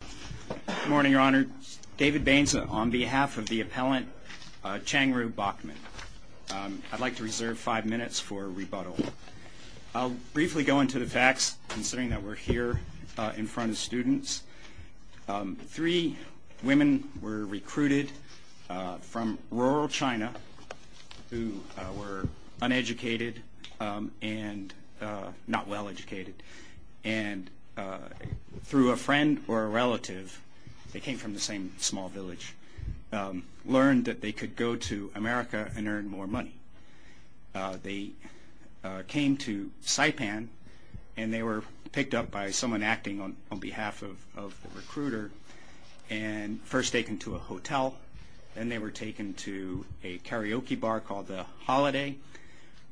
Good morning your honor. David Baines on behalf of the appellant Chang Ru Backman. I'd like to reserve five minutes for rebuttal. I'll briefly go into the facts considering that we're here in front of students. Three women were recruited from rural China who were uneducated and not well educated and through a friend or a relative, they came from the same small village, learned that they could go to America and earn more money. They came to Saipan and they were picked up by someone acting on behalf of a recruiter and first taken to a hotel and then they were taken to a karaoke bar called the Holiday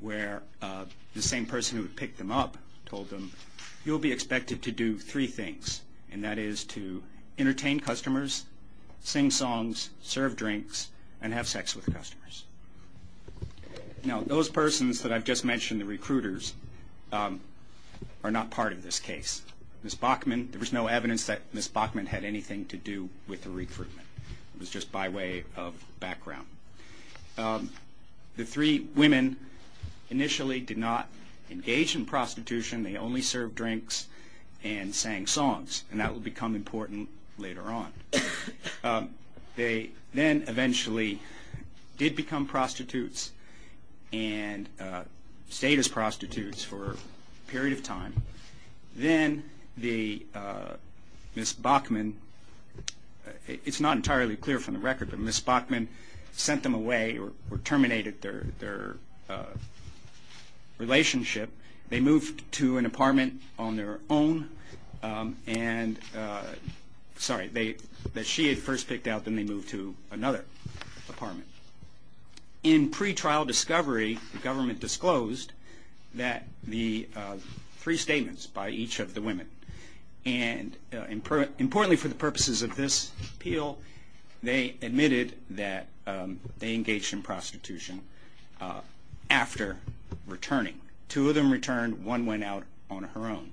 where the same person who picked them up told them you'll be expected to do three things and that is to entertain customers, sing songs, serve drinks and have sex with customers. Now those persons that I've just mentioned, the recruiters, are not part of this case. Ms. Backman, there was no evidence that Ms. Backman had anything to do with the recruitment. It was just by way of background. The three women initially did not engage in prostitution. They only served drinks and sang songs and that will become important later on. They then eventually did become prostitutes and stayed as prostitutes for a period of time. Then Ms. Backman, it's not entirely clear from the record, but Ms. Backman and Ms. Backman had a relationship. They moved to an apartment on their own and sorry, that she had first picked out and then they moved to another apartment. In pre-trial discovery the government disclosed the three statements by each of the women and importantly for the purposes of this appeal, they admitted that they engaged in prostitution after returning. Two of them returned, one went out on her own.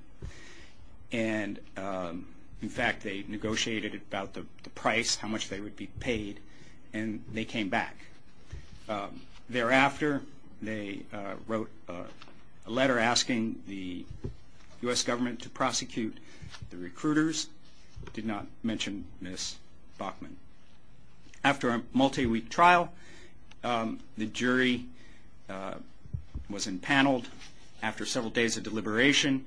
In fact, they negotiated about the price, how much they would be paid and they came back. Thereafter, they wrote a letter asking the U.S. government to prosecute the recruiters. They did not mention Ms. Backman. After a multi-week trial, the jury was empaneled after several days of deliberation.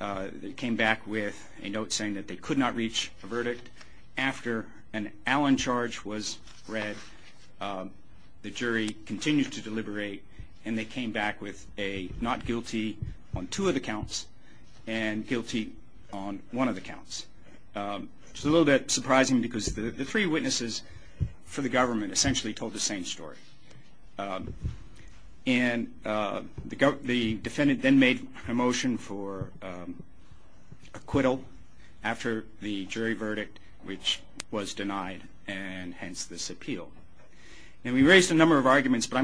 They came back with a note saying that they could not reach a verdict. After an Allen charge was read, the jury continued to deliberate and they came back with a not guilty on two of the counts and guilty on one of the counts. It's a little bit surprising because the three witnesses for the government essentially told the same story. The defendant then made a motion for acquittal after the jury verdict, which was denied and hence this appeal. We raised a number of arguments, but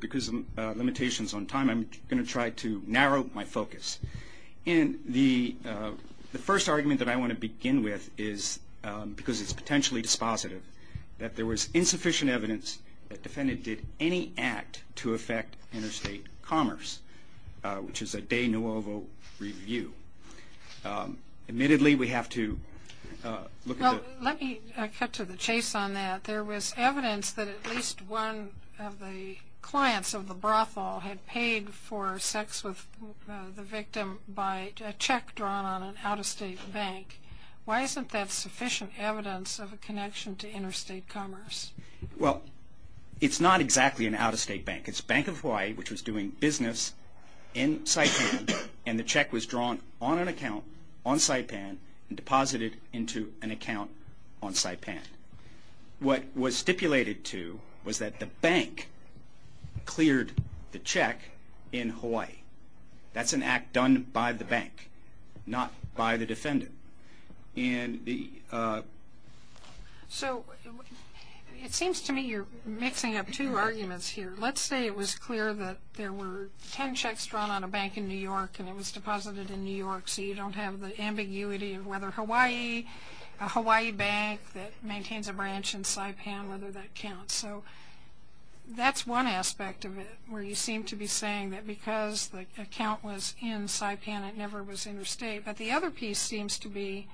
because of limitations on time, I'm going to try to narrow my focus. The first argument that I want to begin with is, because it's potentially dispositive, that there was insufficient evidence that the defendant did any act to affect interstate commerce, which is a de novo review. Admittedly, we have to look at the... Well, let me cut to the chase on that. There was evidence that at least one of the clients of the brothel had paid for sex with the victim by a check drawn on an out-of-state bank. Why isn't that sufficient evidence of a connection to interstate commerce? Well, it's not exactly an out-of-state bank. It's Bank of Hawaii, which was doing business in Saipan and the check was drawn on an account on Saipan and deposited into an account on Saipan. What was stipulated to was that the bank cleared the check in Hawaii. That's an out-of-state bank. It seems to me you're mixing up two arguments here. Let's say it was clear that there were ten checks drawn on a bank in New York and it was deposited in New York, so you don't have the ambiguity of whether Hawaii, a Hawaii bank that maintains a branch in Saipan, whether that counts. That's one aspect of it, where you seem to be saying that because the account was in Saipan, it never was interstate. But the other piece seems to be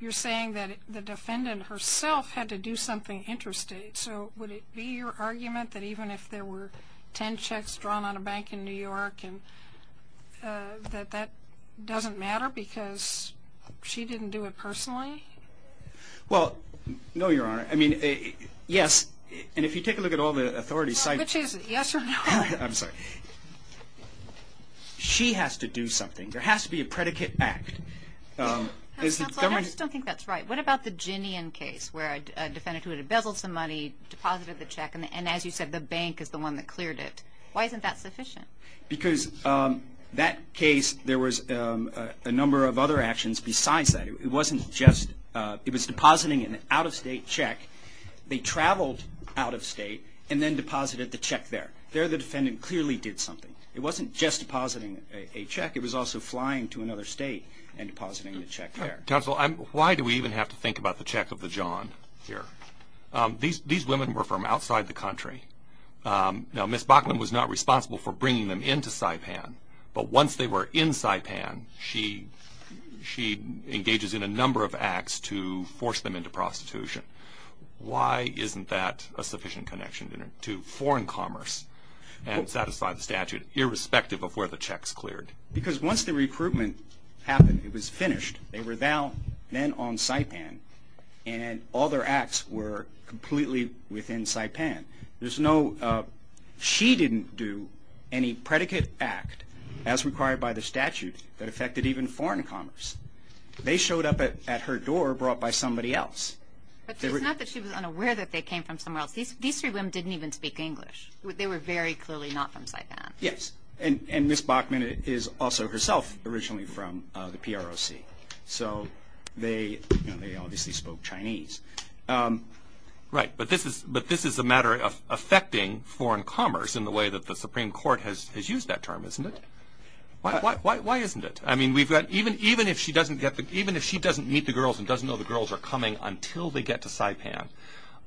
you're saying that the defendant herself had to do something interstate. So would it be your argument that even if there were ten checks drawn on a bank in New York, that that doesn't matter because she didn't do it personally? Well, no, Your Honor. I mean, yes. And if you take a look at all the authority sites Which is it? Yes or no? I'm sorry. She has to do something. There has to be a predicate act. Counsel, I just don't think that's right. What about the Ginian case, where a defendant who had embezzled some money, deposited the check, and as you said, the bank is the one that cleared it. Why isn't that sufficient? Because that case, there was a number of other actions besides that. It wasn't just – it was depositing an out-of-state check. They traveled out of state and then deposited the check there. There, the defendant clearly did something. It wasn't just depositing a check. It was also flying to another state and depositing the check there. Counsel, why do we even have to think about the check of the john here? These women were from outside the country. Now, Ms. Bachman was not responsible for bringing them into Saipan, but once they were in Saipan, she engages in a number of acts to force them into prostitution. Why isn't that a sufficient connection to foreign commerce and satisfy the statute, irrespective of where the check's cleared? Because once the recruitment happened, it was finished. They were now men on Saipan and all their acts were completely within Saipan. There's no – she didn't do any predicate act as required by the statute that affected even foreign commerce. They showed up at her door brought by somebody else. But it's not that she was unaware that they came from somewhere else. These three women didn't even speak English. They were very clearly not from Saipan. Yes. And Ms. Bachman is also herself originally from the PROC. So they obviously spoke Chinese. Right. But this is a matter of affecting foreign commerce in the way that the Supreme Court has used that term, isn't it? Why isn't it? I mean, we've got – even if she doesn't get the – even if she doesn't meet the girls and doesn't know the girls are coming until they get to Saipan,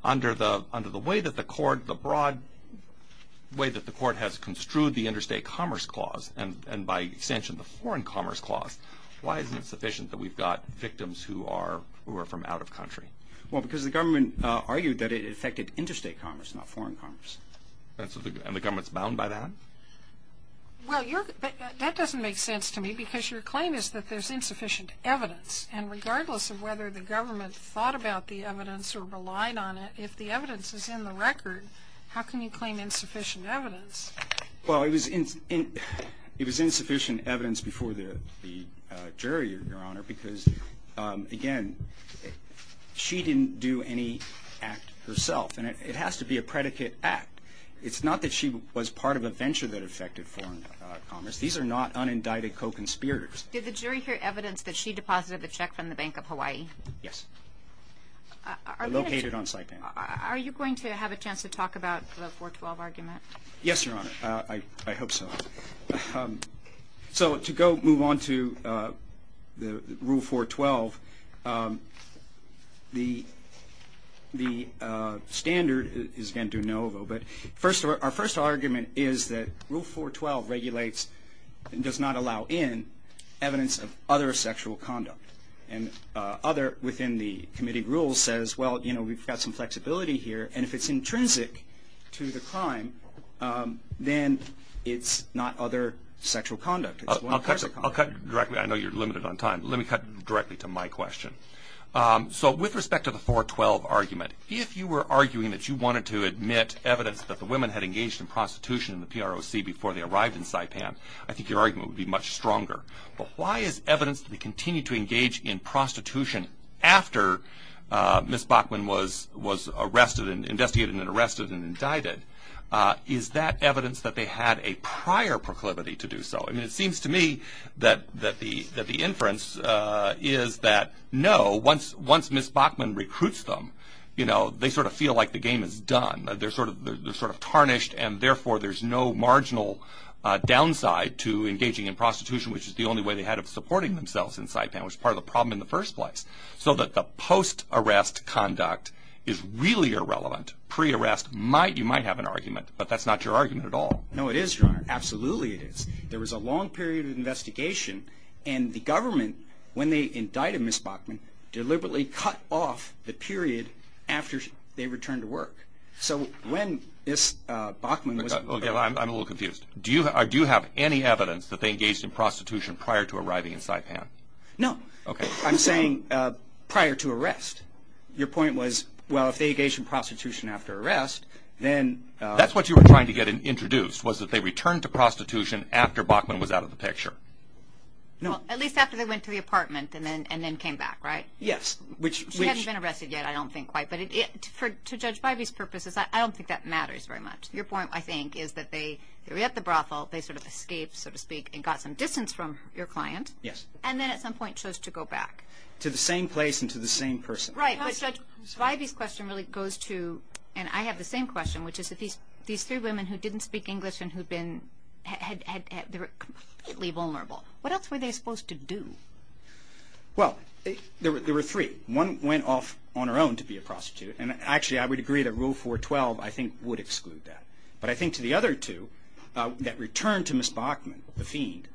under the way that the court – the broad way that the court has construed the interstate commerce clause and by extension the foreign commerce clause, why isn't it sufficient that we've got victims who are from out of country? Well, because the government argued that it affected interstate commerce, not foreign commerce. And so the – and the government's bound by that? Well, your – that doesn't make sense to me because your claim is that there's insufficient evidence. And regardless of whether the government thought about the evidence or relied on it, if the evidence is in the record, how can you claim insufficient evidence? Well, it was insufficient evidence before the jury, Your Honor, because, again, she didn't do any act herself. And it has to be a predicate act. It's not that she was part of a venture that affected foreign commerce. These are not unindicted co-conspirators. Did the jury hear evidence that she deposited the check from the Bank of Hawaii? Yes. Located on Saipan. Are you going to have a chance to talk about the 412 argument? Yes, Your Honor. I hope so. So to go – move on to the Rule 412, the standard is again that Rule 412 regulates and does not allow in evidence of other sexual conduct. And other within the committee rules says, well, you know, we've got some flexibility here. And if it's intrinsic to the crime, then it's not other sexual conduct. It's one person. I'll cut directly. I know you're limited on time. Let me cut directly to my question. So with respect to the 412 argument, if you were arguing that you wanted to admit evidence that the women had engaged in prostitution in the PROC before they arrived in Saipan, I think your argument would be much stronger. But why is evidence that they continued to engage in prostitution after Ms. Bachman was arrested and investigated and arrested and indicted? Is that evidence that they had a prior proclivity to do so? I mean, it seems to me that the inference is that no, once Ms. Bachman recruits them, you know, they sort of feel like the game is done. They're sort of tarnished, and therefore there's no marginal downside to engaging in prostitution, which is the only way they had of supporting themselves in Saipan, which is part of the problem in the first place. So that the post-arrest conduct is really irrelevant. Pre-arrest, you might have an argument, but that's not your argument at all. No, it is, Your Honor. Absolutely it is. There was a long period of investigation, and the they returned to work. So when Ms. Bachman was arrested... Okay, I'm a little confused. Do you have any evidence that they engaged in prostitution prior to arriving in Saipan? No. Okay. I'm saying prior to arrest. Your point was, well, if they engaged in prostitution after arrest, then... That's what you were trying to get introduced, was that they returned to prostitution after Bachman was out of the picture. Well, at least after they went to the apartment and then came back, right? Yes. She hasn't been arrested yet, I don't think, quite. But to Judge Bivey's purposes, I don't think that matters very much. Your point, I think, is that they were at the brothel, they sort of escaped, so to speak, and got some distance from your client. Yes. And then at some point chose to go back. To the same place and to the same person. Right. But Judge Bivey's question really goes to, and I have the same question, which is that these three women who didn't speak English and who'd been... They were completely vulnerable. What else were they supposed to do? Well, there were three. One went off on her own to be a prostitute. And actually, I would agree that Rule 412, I think, would exclude that. But I think to the other two that returned to Ms. Bachman, the fiend,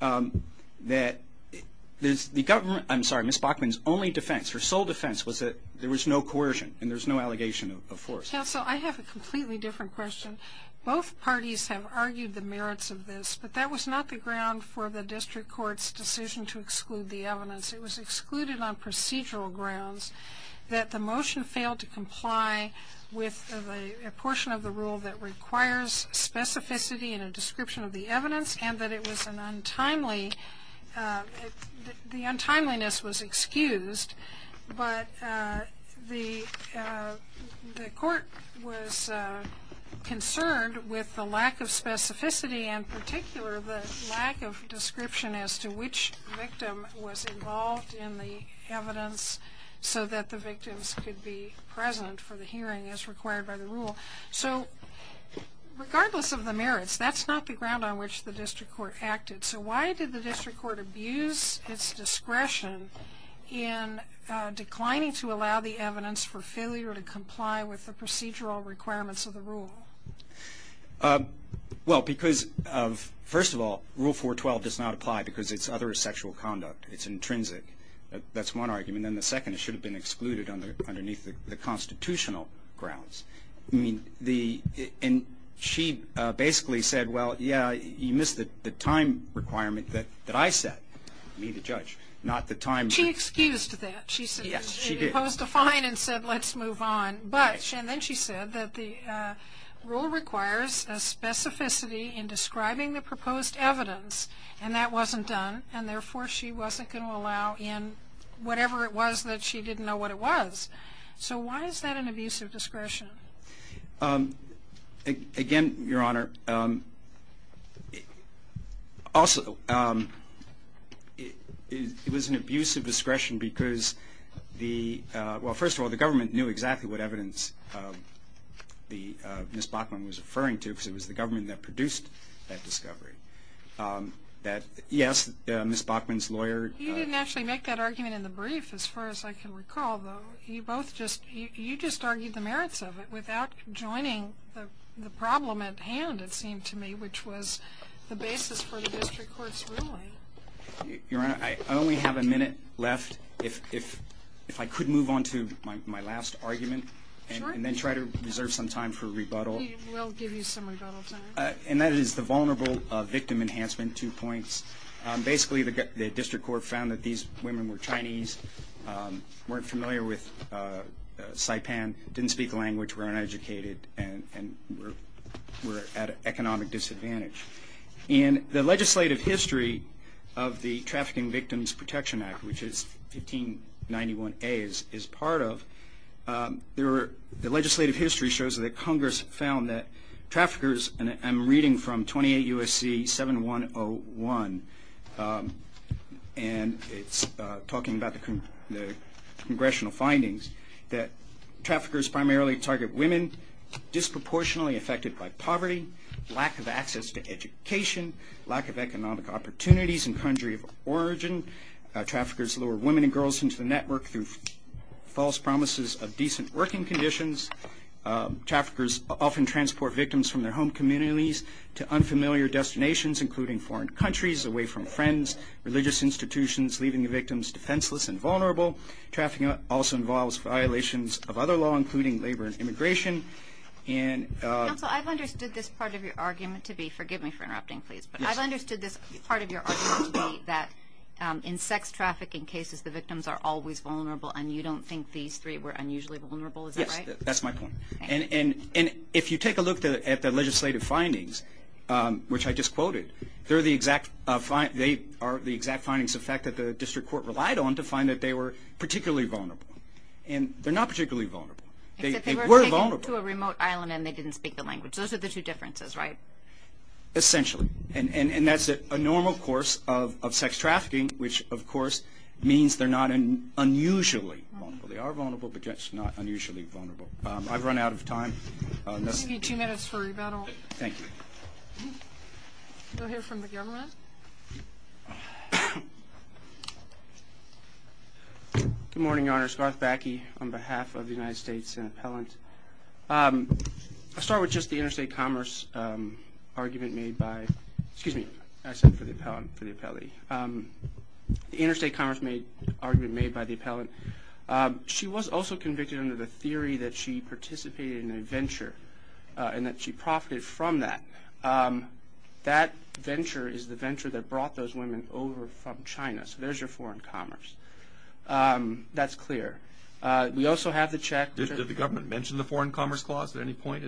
that the government... I'm sorry, Ms. Bachman's only defense, her sole defense, was that there was no coercion and there was no allegation of force. Counsel, I have a completely different question. Both parties have argued the merits of this, but that was not the ground for the district court's decision to exclude the evidence. It was excluded on procedural grounds that the motion failed to comply with a portion of the rule that requires specificity in a description of the evidence and that it was an untimely... The untimeliness was excused, but the court was concerned with the lack of specificity and, in particular, the lack of description as to which victim was involved in the evidence so that the victims could be present for the hearing as required by the rule. So regardless of the merits, that's not the ground on which the district court acted. So why did the district court abuse its discretion in declining to allow the evidence for failure to comply with the procedural requirements of the rule? Well, because, first of all, Rule 412 does not apply because it's other sexual conduct. It's intrinsic. That's one argument. And then the second, it should have been excluded underneath the constitutional grounds. I mean, the... And she basically said, well, yeah, you missed the time requirement that I set, me the judge, not the time... Well, she excused that. She said, she posed a fine and said, let's move on. But, and then she said that the rule requires a specificity in describing the proposed evidence and that wasn't done and, therefore, she wasn't going to allow in whatever it was that she didn't know what it was. So why is that an abusive discretion? Again, Your Honor, also, it was an abusive discretion because the, well, first of all, the government knew exactly what evidence Miss Bachman was referring to because it was the government that produced that discovery. That, yes, Miss Bachman's lawyer... You didn't actually make that argument in the brief, as far as I can recall, though. You both just, you just argued the merits of it without joining the problem at hand, it seemed to me, which was the basis for the district court's ruling. Your Honor, I only have a minute left. If I could move on to my last argument and then try to reserve some time for rebuttal. We'll give you some rebuttal time. And that is the vulnerable victim enhancement, two points. Basically, the district court found that these women were Chinese, weren't familiar with Saipan, didn't speak the language, were uneducated, and were at economic disadvantage. In the legislative history of the Trafficking Victims Protection Act, which 1591A is part of, the legislative history shows that Congress found that traffickers, and I'm reading from 28 U.S.C. 7101, and it's talking about the congressional findings, that traffickers primarily target women, disproportionately affected by poverty, lack of access to education, lack of economic opportunities, and country of origin. Traffickers lure women and girls into the network through false promises of decent working conditions. Traffickers often transport victims from their home communities to unfamiliar destinations, including foreign countries, away from friends, religious institutions, leaving the victims defenseless and vulnerable. Trafficking also involves violations of other law, including labor and immigration. Counsel, I've understood this part of your argument to be, forgive me for interrupting, please, but I've understood this part of your argument to be that in sex trafficking cases, the victims are always vulnerable and you don't think these three were unusually vulnerable, is that right? That's my point. And if you take a look at the legislative findings, which I just quoted, they are the exact findings of fact that the district court relied on to find that they were particularly vulnerable. And they're not particularly vulnerable. They were vulnerable. Except they were taken to a remote island and they didn't speak the language. Those are the two differences, right? Essentially. And that's a normal course of sex trafficking, which, of course, means they're not unusually vulnerable. They are vulnerable, but just not unusually vulnerable. I've run out of time. We'll give you two minutes for rebuttal. Thank you. We'll hear from the government. Good morning, Your Honors. Garth Backe on behalf of the United States Senate Appellant. I'll start with just the interstate commerce argument made by, excuse me, I said for the appellant, for the appellee. The interstate commerce argument made by the appellant, she was also convicted under the theory that she participated in a venture and that she profited from that. That venture is the venture that brought those women over from China. So there's your foreign commerce. That's clear. We also have the check. Did the government mention the foreign commerce clause at any point?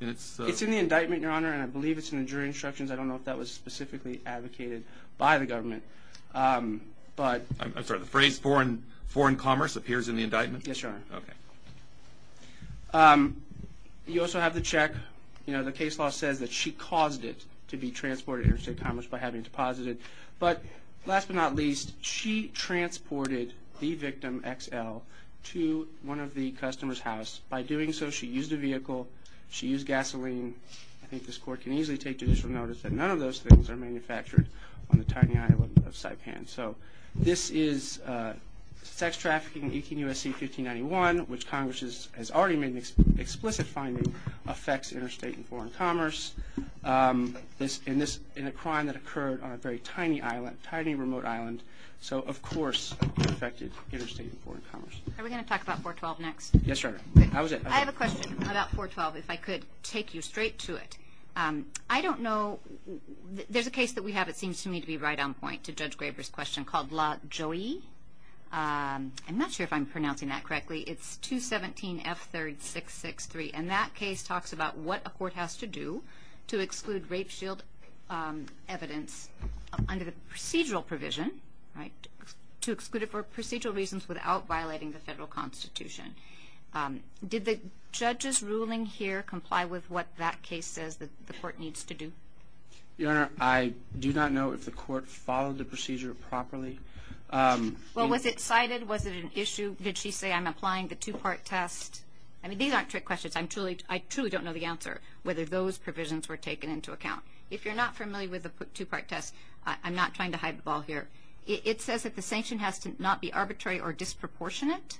It's in the indictment, Your Honor, and I believe it's in the jury instructions. I don't know if that was specifically advocated by the government. I'm sorry, the phrase foreign commerce appears in the indictment? Yes, Your Honor. Okay. You also have the check. You know, the case law says that she caused it to be transported interstate commerce by having it deposited. But last but not least, she transported the victim, XL, to one of the customers' house. By doing so, she used a vehicle, she used gasoline. I think this court can easily take judicial notice that none of those things are manufactured on the tiny island of Saipan. So this is sex trafficking, 18 U.S.C. 1591, which Congress has already made an explicit finding, affects interstate and foreign commerce in a crime that occurred on a very tiny island, a tiny remote island. So, of course, it affected interstate and foreign commerce. Are we going to talk about 412 next? Yes, Your Honor. I have a question about 412, if I could take you straight to it. I don't know. There's a case that we have, it seems to me, to be right on point to Judge Graber's question called La Jolie. I'm not sure if I'm pronouncing that correctly. It's 217F3663, and that case talks about what a court has to do to exclude rape shield evidence under the procedural provision, right, to exclude it for procedural reasons without violating the federal constitution. Did the judge's ruling here comply with what that case says that the court needs to do? Your Honor, I do not know if the court followed the procedure properly. Well, was it cited? Was it an issue? Did she say, I'm applying the two-part test? I mean, these aren't trick questions. I truly don't know the answer, whether those provisions were taken into account. If you're not familiar with the two-part test, I'm not trying to hide the ball here. It says that the sanction has to not be arbitrary or disproportionate,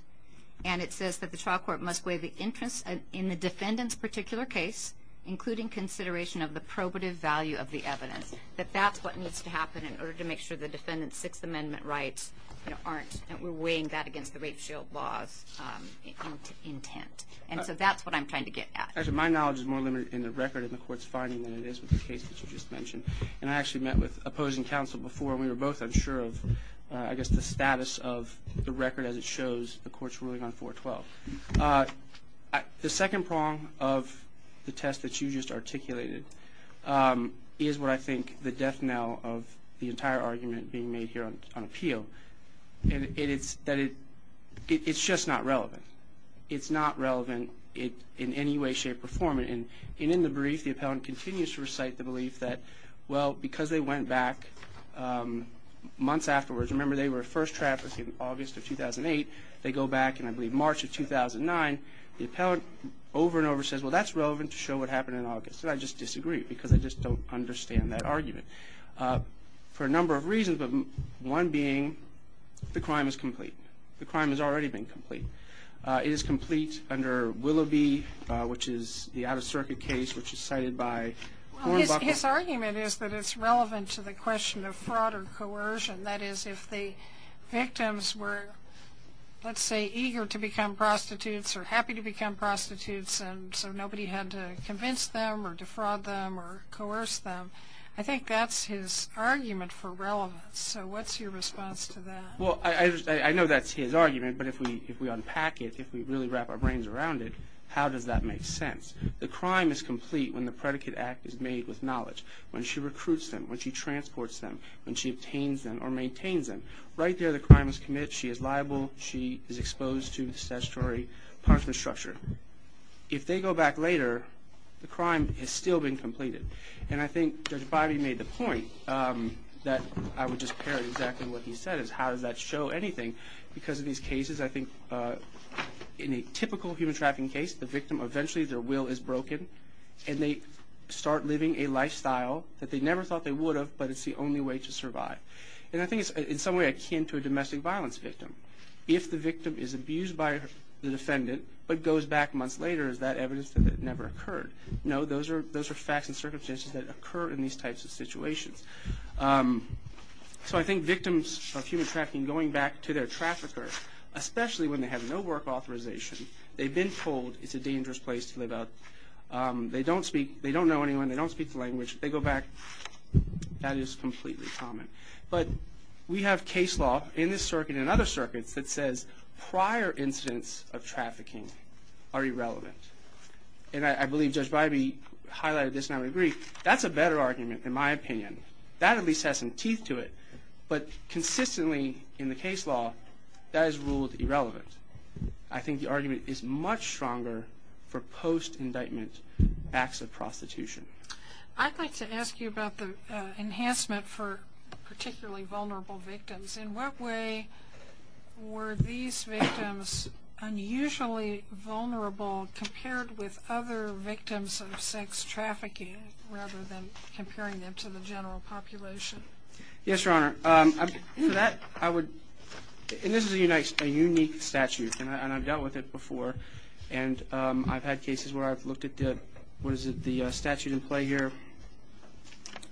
and it says that the trial court must weigh the interest in the defendant's particular case, including consideration of the probative value of the evidence, that that's what needs to happen in order to make sure the defendant's Sixth Amendment rights aren't, that we're weighing that against the rape shield law's intent. And so that's what I'm trying to get at. Actually, my knowledge is more limited in the record in the court's finding than it is with the case that you just mentioned. And I actually met with opposing counsel before, and we were both unsure of, I guess, the status of the record as it shows the court's ruling on 412. The second prong of the test that you just articulated is what I think the death knell of the entire argument being made here on appeal, and it's that it's just not relevant. It's not relevant in any way, shape, or form. And in the brief, the appellant continues to recite the belief that, well, because they went back months afterwards, remember they were first trapped in August of 2008. They go back in, I believe, March of 2009. The appellant over and over says, well, that's relevant to show what happened in August. And I just disagree because I just don't understand that argument for a number of reasons, but one being the crime is complete. The crime has already been complete. It is complete under Willoughby, which is the out-of-circuit case, which is cited by Hornbuckle. His argument is that it's relevant to the question of fraud or coercion. That is, if the victims were, let's say, eager to become prostitutes or happy to become prostitutes and so nobody had to convince them or defraud them or coerce them, I think that's his argument for relevance. So what's your response to that? Well, I know that's his argument, but if we unpack it, if we really wrap our brains around it, how does that make sense? The crime is complete when the predicate act is made with knowledge, when she recruits them, when she transports them, when she obtains them or maintains them. Right there the crime is committed. She is liable. She is exposed to the statutory punishment structure. If they go back later, the crime has still been completed. And I think Judge Bybee made the point that I would just parrot exactly what he said, is how does that show anything? Because of these cases, I think in a typical human trafficking case, the victim eventually, their will is broken, and they start living a lifestyle that they never thought they would have, but it's the only way to survive. And I think it's in some way akin to a domestic violence victim. If the victim is abused by the defendant but goes back months later, is that evidence that it never occurred? No, those are facts and circumstances that occur in these types of situations. So I think victims of human trafficking going back to their trafficker, especially when they have no work authorization, they've been told it's a dangerous place to live out, they don't know anyone, they don't speak the language, they go back, that is completely common. But we have case law in this circuit and other circuits that says prior incidents of trafficking are irrelevant. And I believe Judge Bybee highlighted this and I would agree, that's a better argument in my opinion. That at least has some teeth to it. But consistently in the case law, that is ruled irrelevant. I think the argument is much stronger for post-indictment acts of prostitution. I'd like to ask you about the enhancement for particularly vulnerable victims. In what way were these victims unusually vulnerable compared with other victims of sex trafficking, rather than comparing them to the general population? Yes, Your Honor. And this is a unique statute and I've dealt with it before. And I've had cases where I've looked at the statute in play here,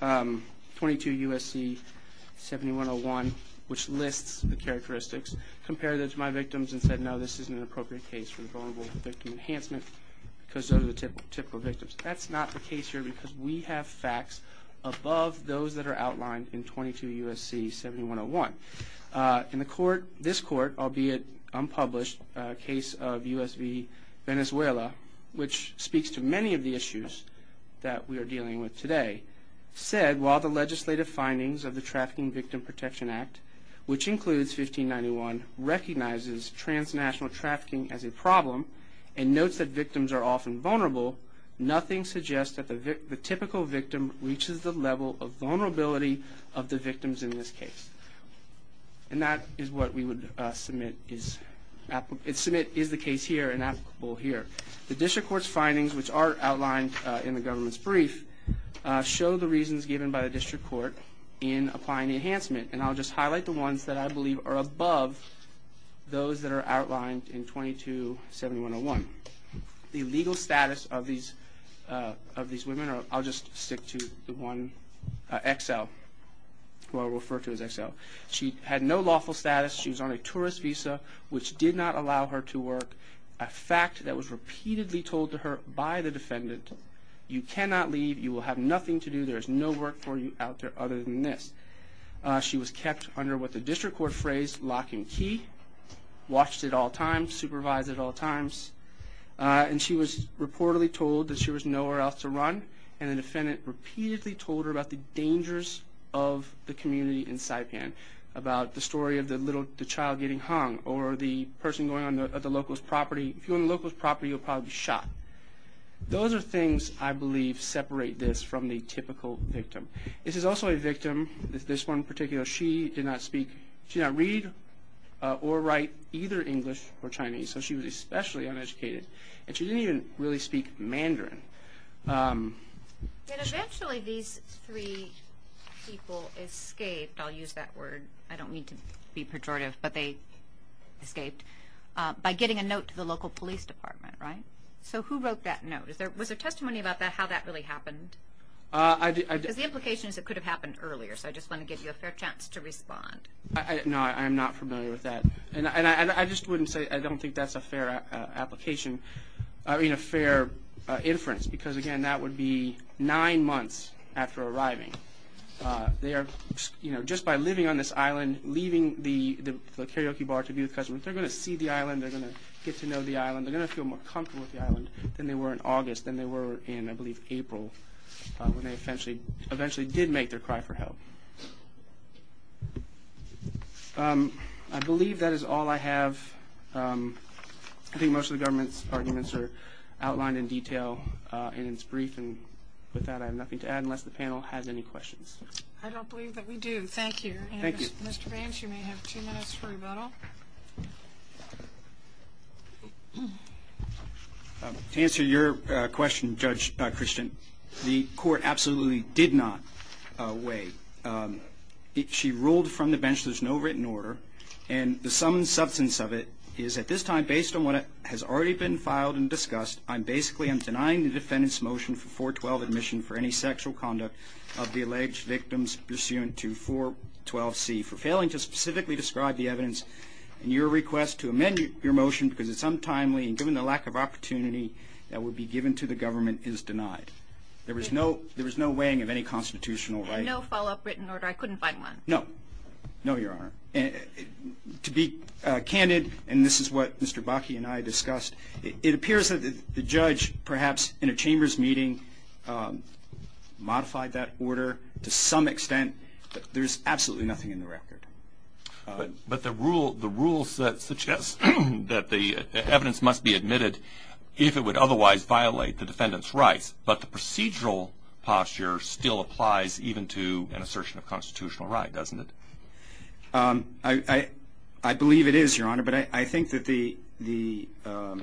22 U.S.C. 7101, which lists the characteristics, compared those to my victims and said, no, this isn't an appropriate case for the vulnerable victim enhancement because those are the typical victims. That's not the case here because we have facts above those that are outlined in 22 U.S.C. 7101. In the court, this court, albeit unpublished, a case of U.S.V. Venezuela, which speaks to many of the issues that we are dealing with today, said, while the legislative findings of the Trafficking Victim Protection Act, which includes 1591, recognizes transnational trafficking as a problem and notes that victims are often vulnerable, nothing suggests that the typical victim reaches the level of vulnerability of the victims in this case. And that is what we would submit is the case here and applicable here. The district court's findings, which are outlined in the government's brief, show the reasons given by the district court in applying enhancement. And I'll just highlight the ones that I believe are above those that are outlined in 22 U.S.C. 7101. The legal status of these women, I'll just stick to the one XL, who I'll refer to as XL. She had no lawful status. She was on a tourist visa, which did not allow her to work, a fact that was repeatedly told to her by the defendant, you cannot leave, you will have nothing to do, there is no work for you out there other than this. She was kept under what the district court phrased locking key, watched at all times, supervised at all times, and she was reportedly told that she was nowhere else to run, and the defendant repeatedly told her about the dangers of the community in Saipan, about the story of the child getting hung, or the person going on the local's property, if you're on the local's property you'll probably be shot. Those are things I believe separate this from the typical victim. This is also a victim, this one in particular, she did not speak, she did not read or write either English or Chinese, so she was especially uneducated, and she didn't even really speak Mandarin. Eventually these three people escaped, I'll use that word, I don't mean to be pejorative, but they escaped, by getting a note to the local police department, right? So who wrote that note? Was there testimony about how that really happened? The implication is it could have happened earlier, so I just want to give you a fair chance to respond. No, I am not familiar with that, and I just wouldn't say, I don't think that's a fair application, I mean a fair inference, because again that would be nine months after arriving. They are, you know, just by living on this island, leaving the karaoke bar to be with cousins, they're going to see the island, they're going to get to know the island, they're going to feel more comfortable with the island than they were in August, than they were in, I believe, April, when they eventually did make their cry for help. I believe that is all I have. I think most of the government's arguments are outlined in detail in its brief, and with that I have nothing to add unless the panel has any questions. I don't believe that we do. Thank you. Thank you. Mr. Vance, you may have two minutes for rebuttal. To answer your question, Judge Christian, the court absolutely did not wait. She ruled from the bench there's no written order, and the sum and substance of it is at this time based on what has already been filed and discussed, I basically am denying the defendant's motion for 412 admission for any sexual conduct of the alleged victims pursuant to 412C for failing to specifically describe the evidence, and your request to amend your motion because it's untimely and given the lack of opportunity that would be given to the government is denied. There was no weighing of any constitutional right. And no follow-up written order? I couldn't find one. No. No, Your Honor. To be candid, and this is what Mr. Bakke and I discussed, it appears that the judge perhaps in a chamber's meeting modified that order to some extent. There's absolutely nothing in the record. But the rule suggests that the evidence must be admitted if it would otherwise violate the defendant's rights, but the procedural posture still applies even to an assertion of constitutional right, doesn't it? I believe it is, Your Honor, but I think that the... We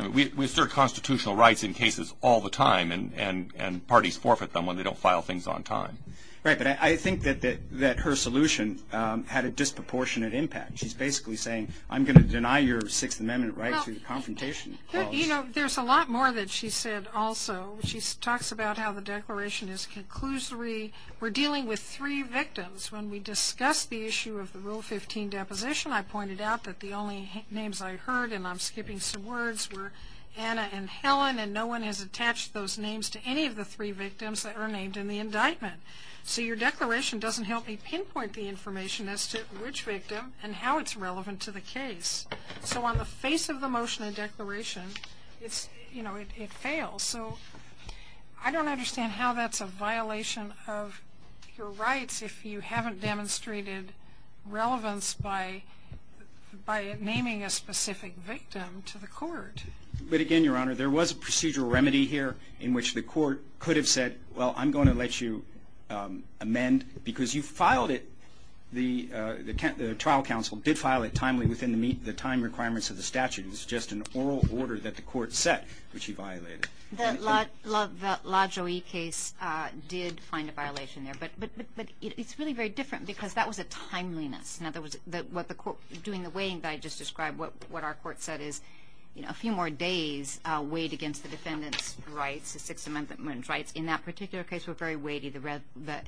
assert constitutional rights in cases all the time, and parties forfeit them when they don't file things on time. Right, but I think that her solution had a disproportionate impact. She's basically saying, I'm going to deny your Sixth Amendment right to the confrontation clause. You know, there's a lot more that she said also. She talks about how the declaration is conclusory. We're dealing with three victims. When we discussed the issue of the Rule 15 deposition, I pointed out that the only names I heard, and I'm skipping some words, were Anna and Helen, and no one has attached those names to any of the three victims that are named in the indictment. So your declaration doesn't help me pinpoint the information as to which victim and how it's relevant to the case. So on the face of the motion and declaration, it fails. So I don't understand how that's a violation of your rights if you haven't demonstrated relevance by naming a specific victim to the court. But again, Your Honor, there was a procedural remedy here in which the court could have said, well, I'm going to let you amend because you filed it. The trial counsel did file it timely within the time requirements of the statute. It's just an oral order that the court set, which he violated. The La Joie case did find a violation there. But it's really very different because that was a timeliness. In other words, doing the weighting that I just described, what our court said is a few more days weighed against the defendant's rights, the Sixth Amendment rights. In that particular case, we're very weighty. The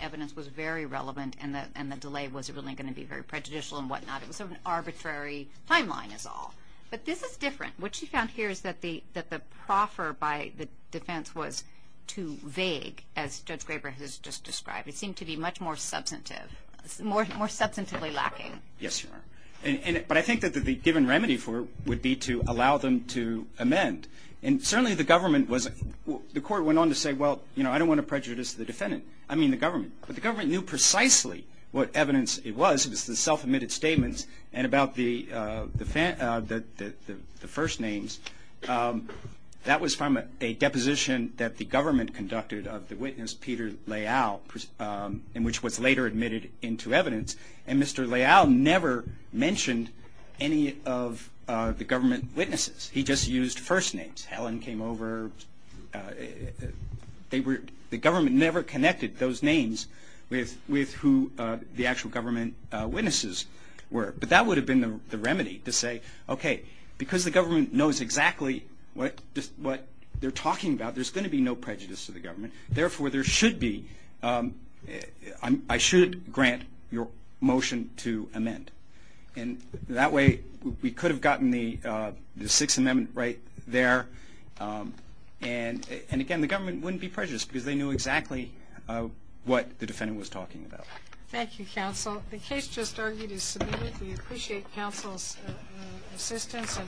evidence was very relevant, and the delay wasn't really going to be very prejudicial and whatnot. It was sort of an arbitrary timeline is all. But this is different. What she found here is that the proffer by the defense was too vague, as Judge Graber has just described. It seemed to be much more substantive, more substantively lacking. Yes, Your Honor. But I think that the given remedy for it would be to allow them to amend. And certainly the government was – the court went on to say, well, you know, I don't want to prejudice the defendant. I mean the government. But the government knew precisely what evidence it was. The self-admitted statements and about the first names, that was from a deposition that the government conducted of the witness, Peter Leal, and which was later admitted into evidence. And Mr. Leal never mentioned any of the government witnesses. He just used first names. Helen came over. The government never connected those names with who the actual government witnesses were. But that would have been the remedy to say, okay, because the government knows exactly what they're talking about, there's going to be no prejudice to the government. Therefore, there should be – I should grant your motion to amend. And that way we could have gotten the Sixth Amendment right there. And, again, the government wouldn't be prejudiced because they knew exactly what the defendant was talking about. Thank you, counsel. The case just argued is submitted. We appreciate counsel's assistance and arguments.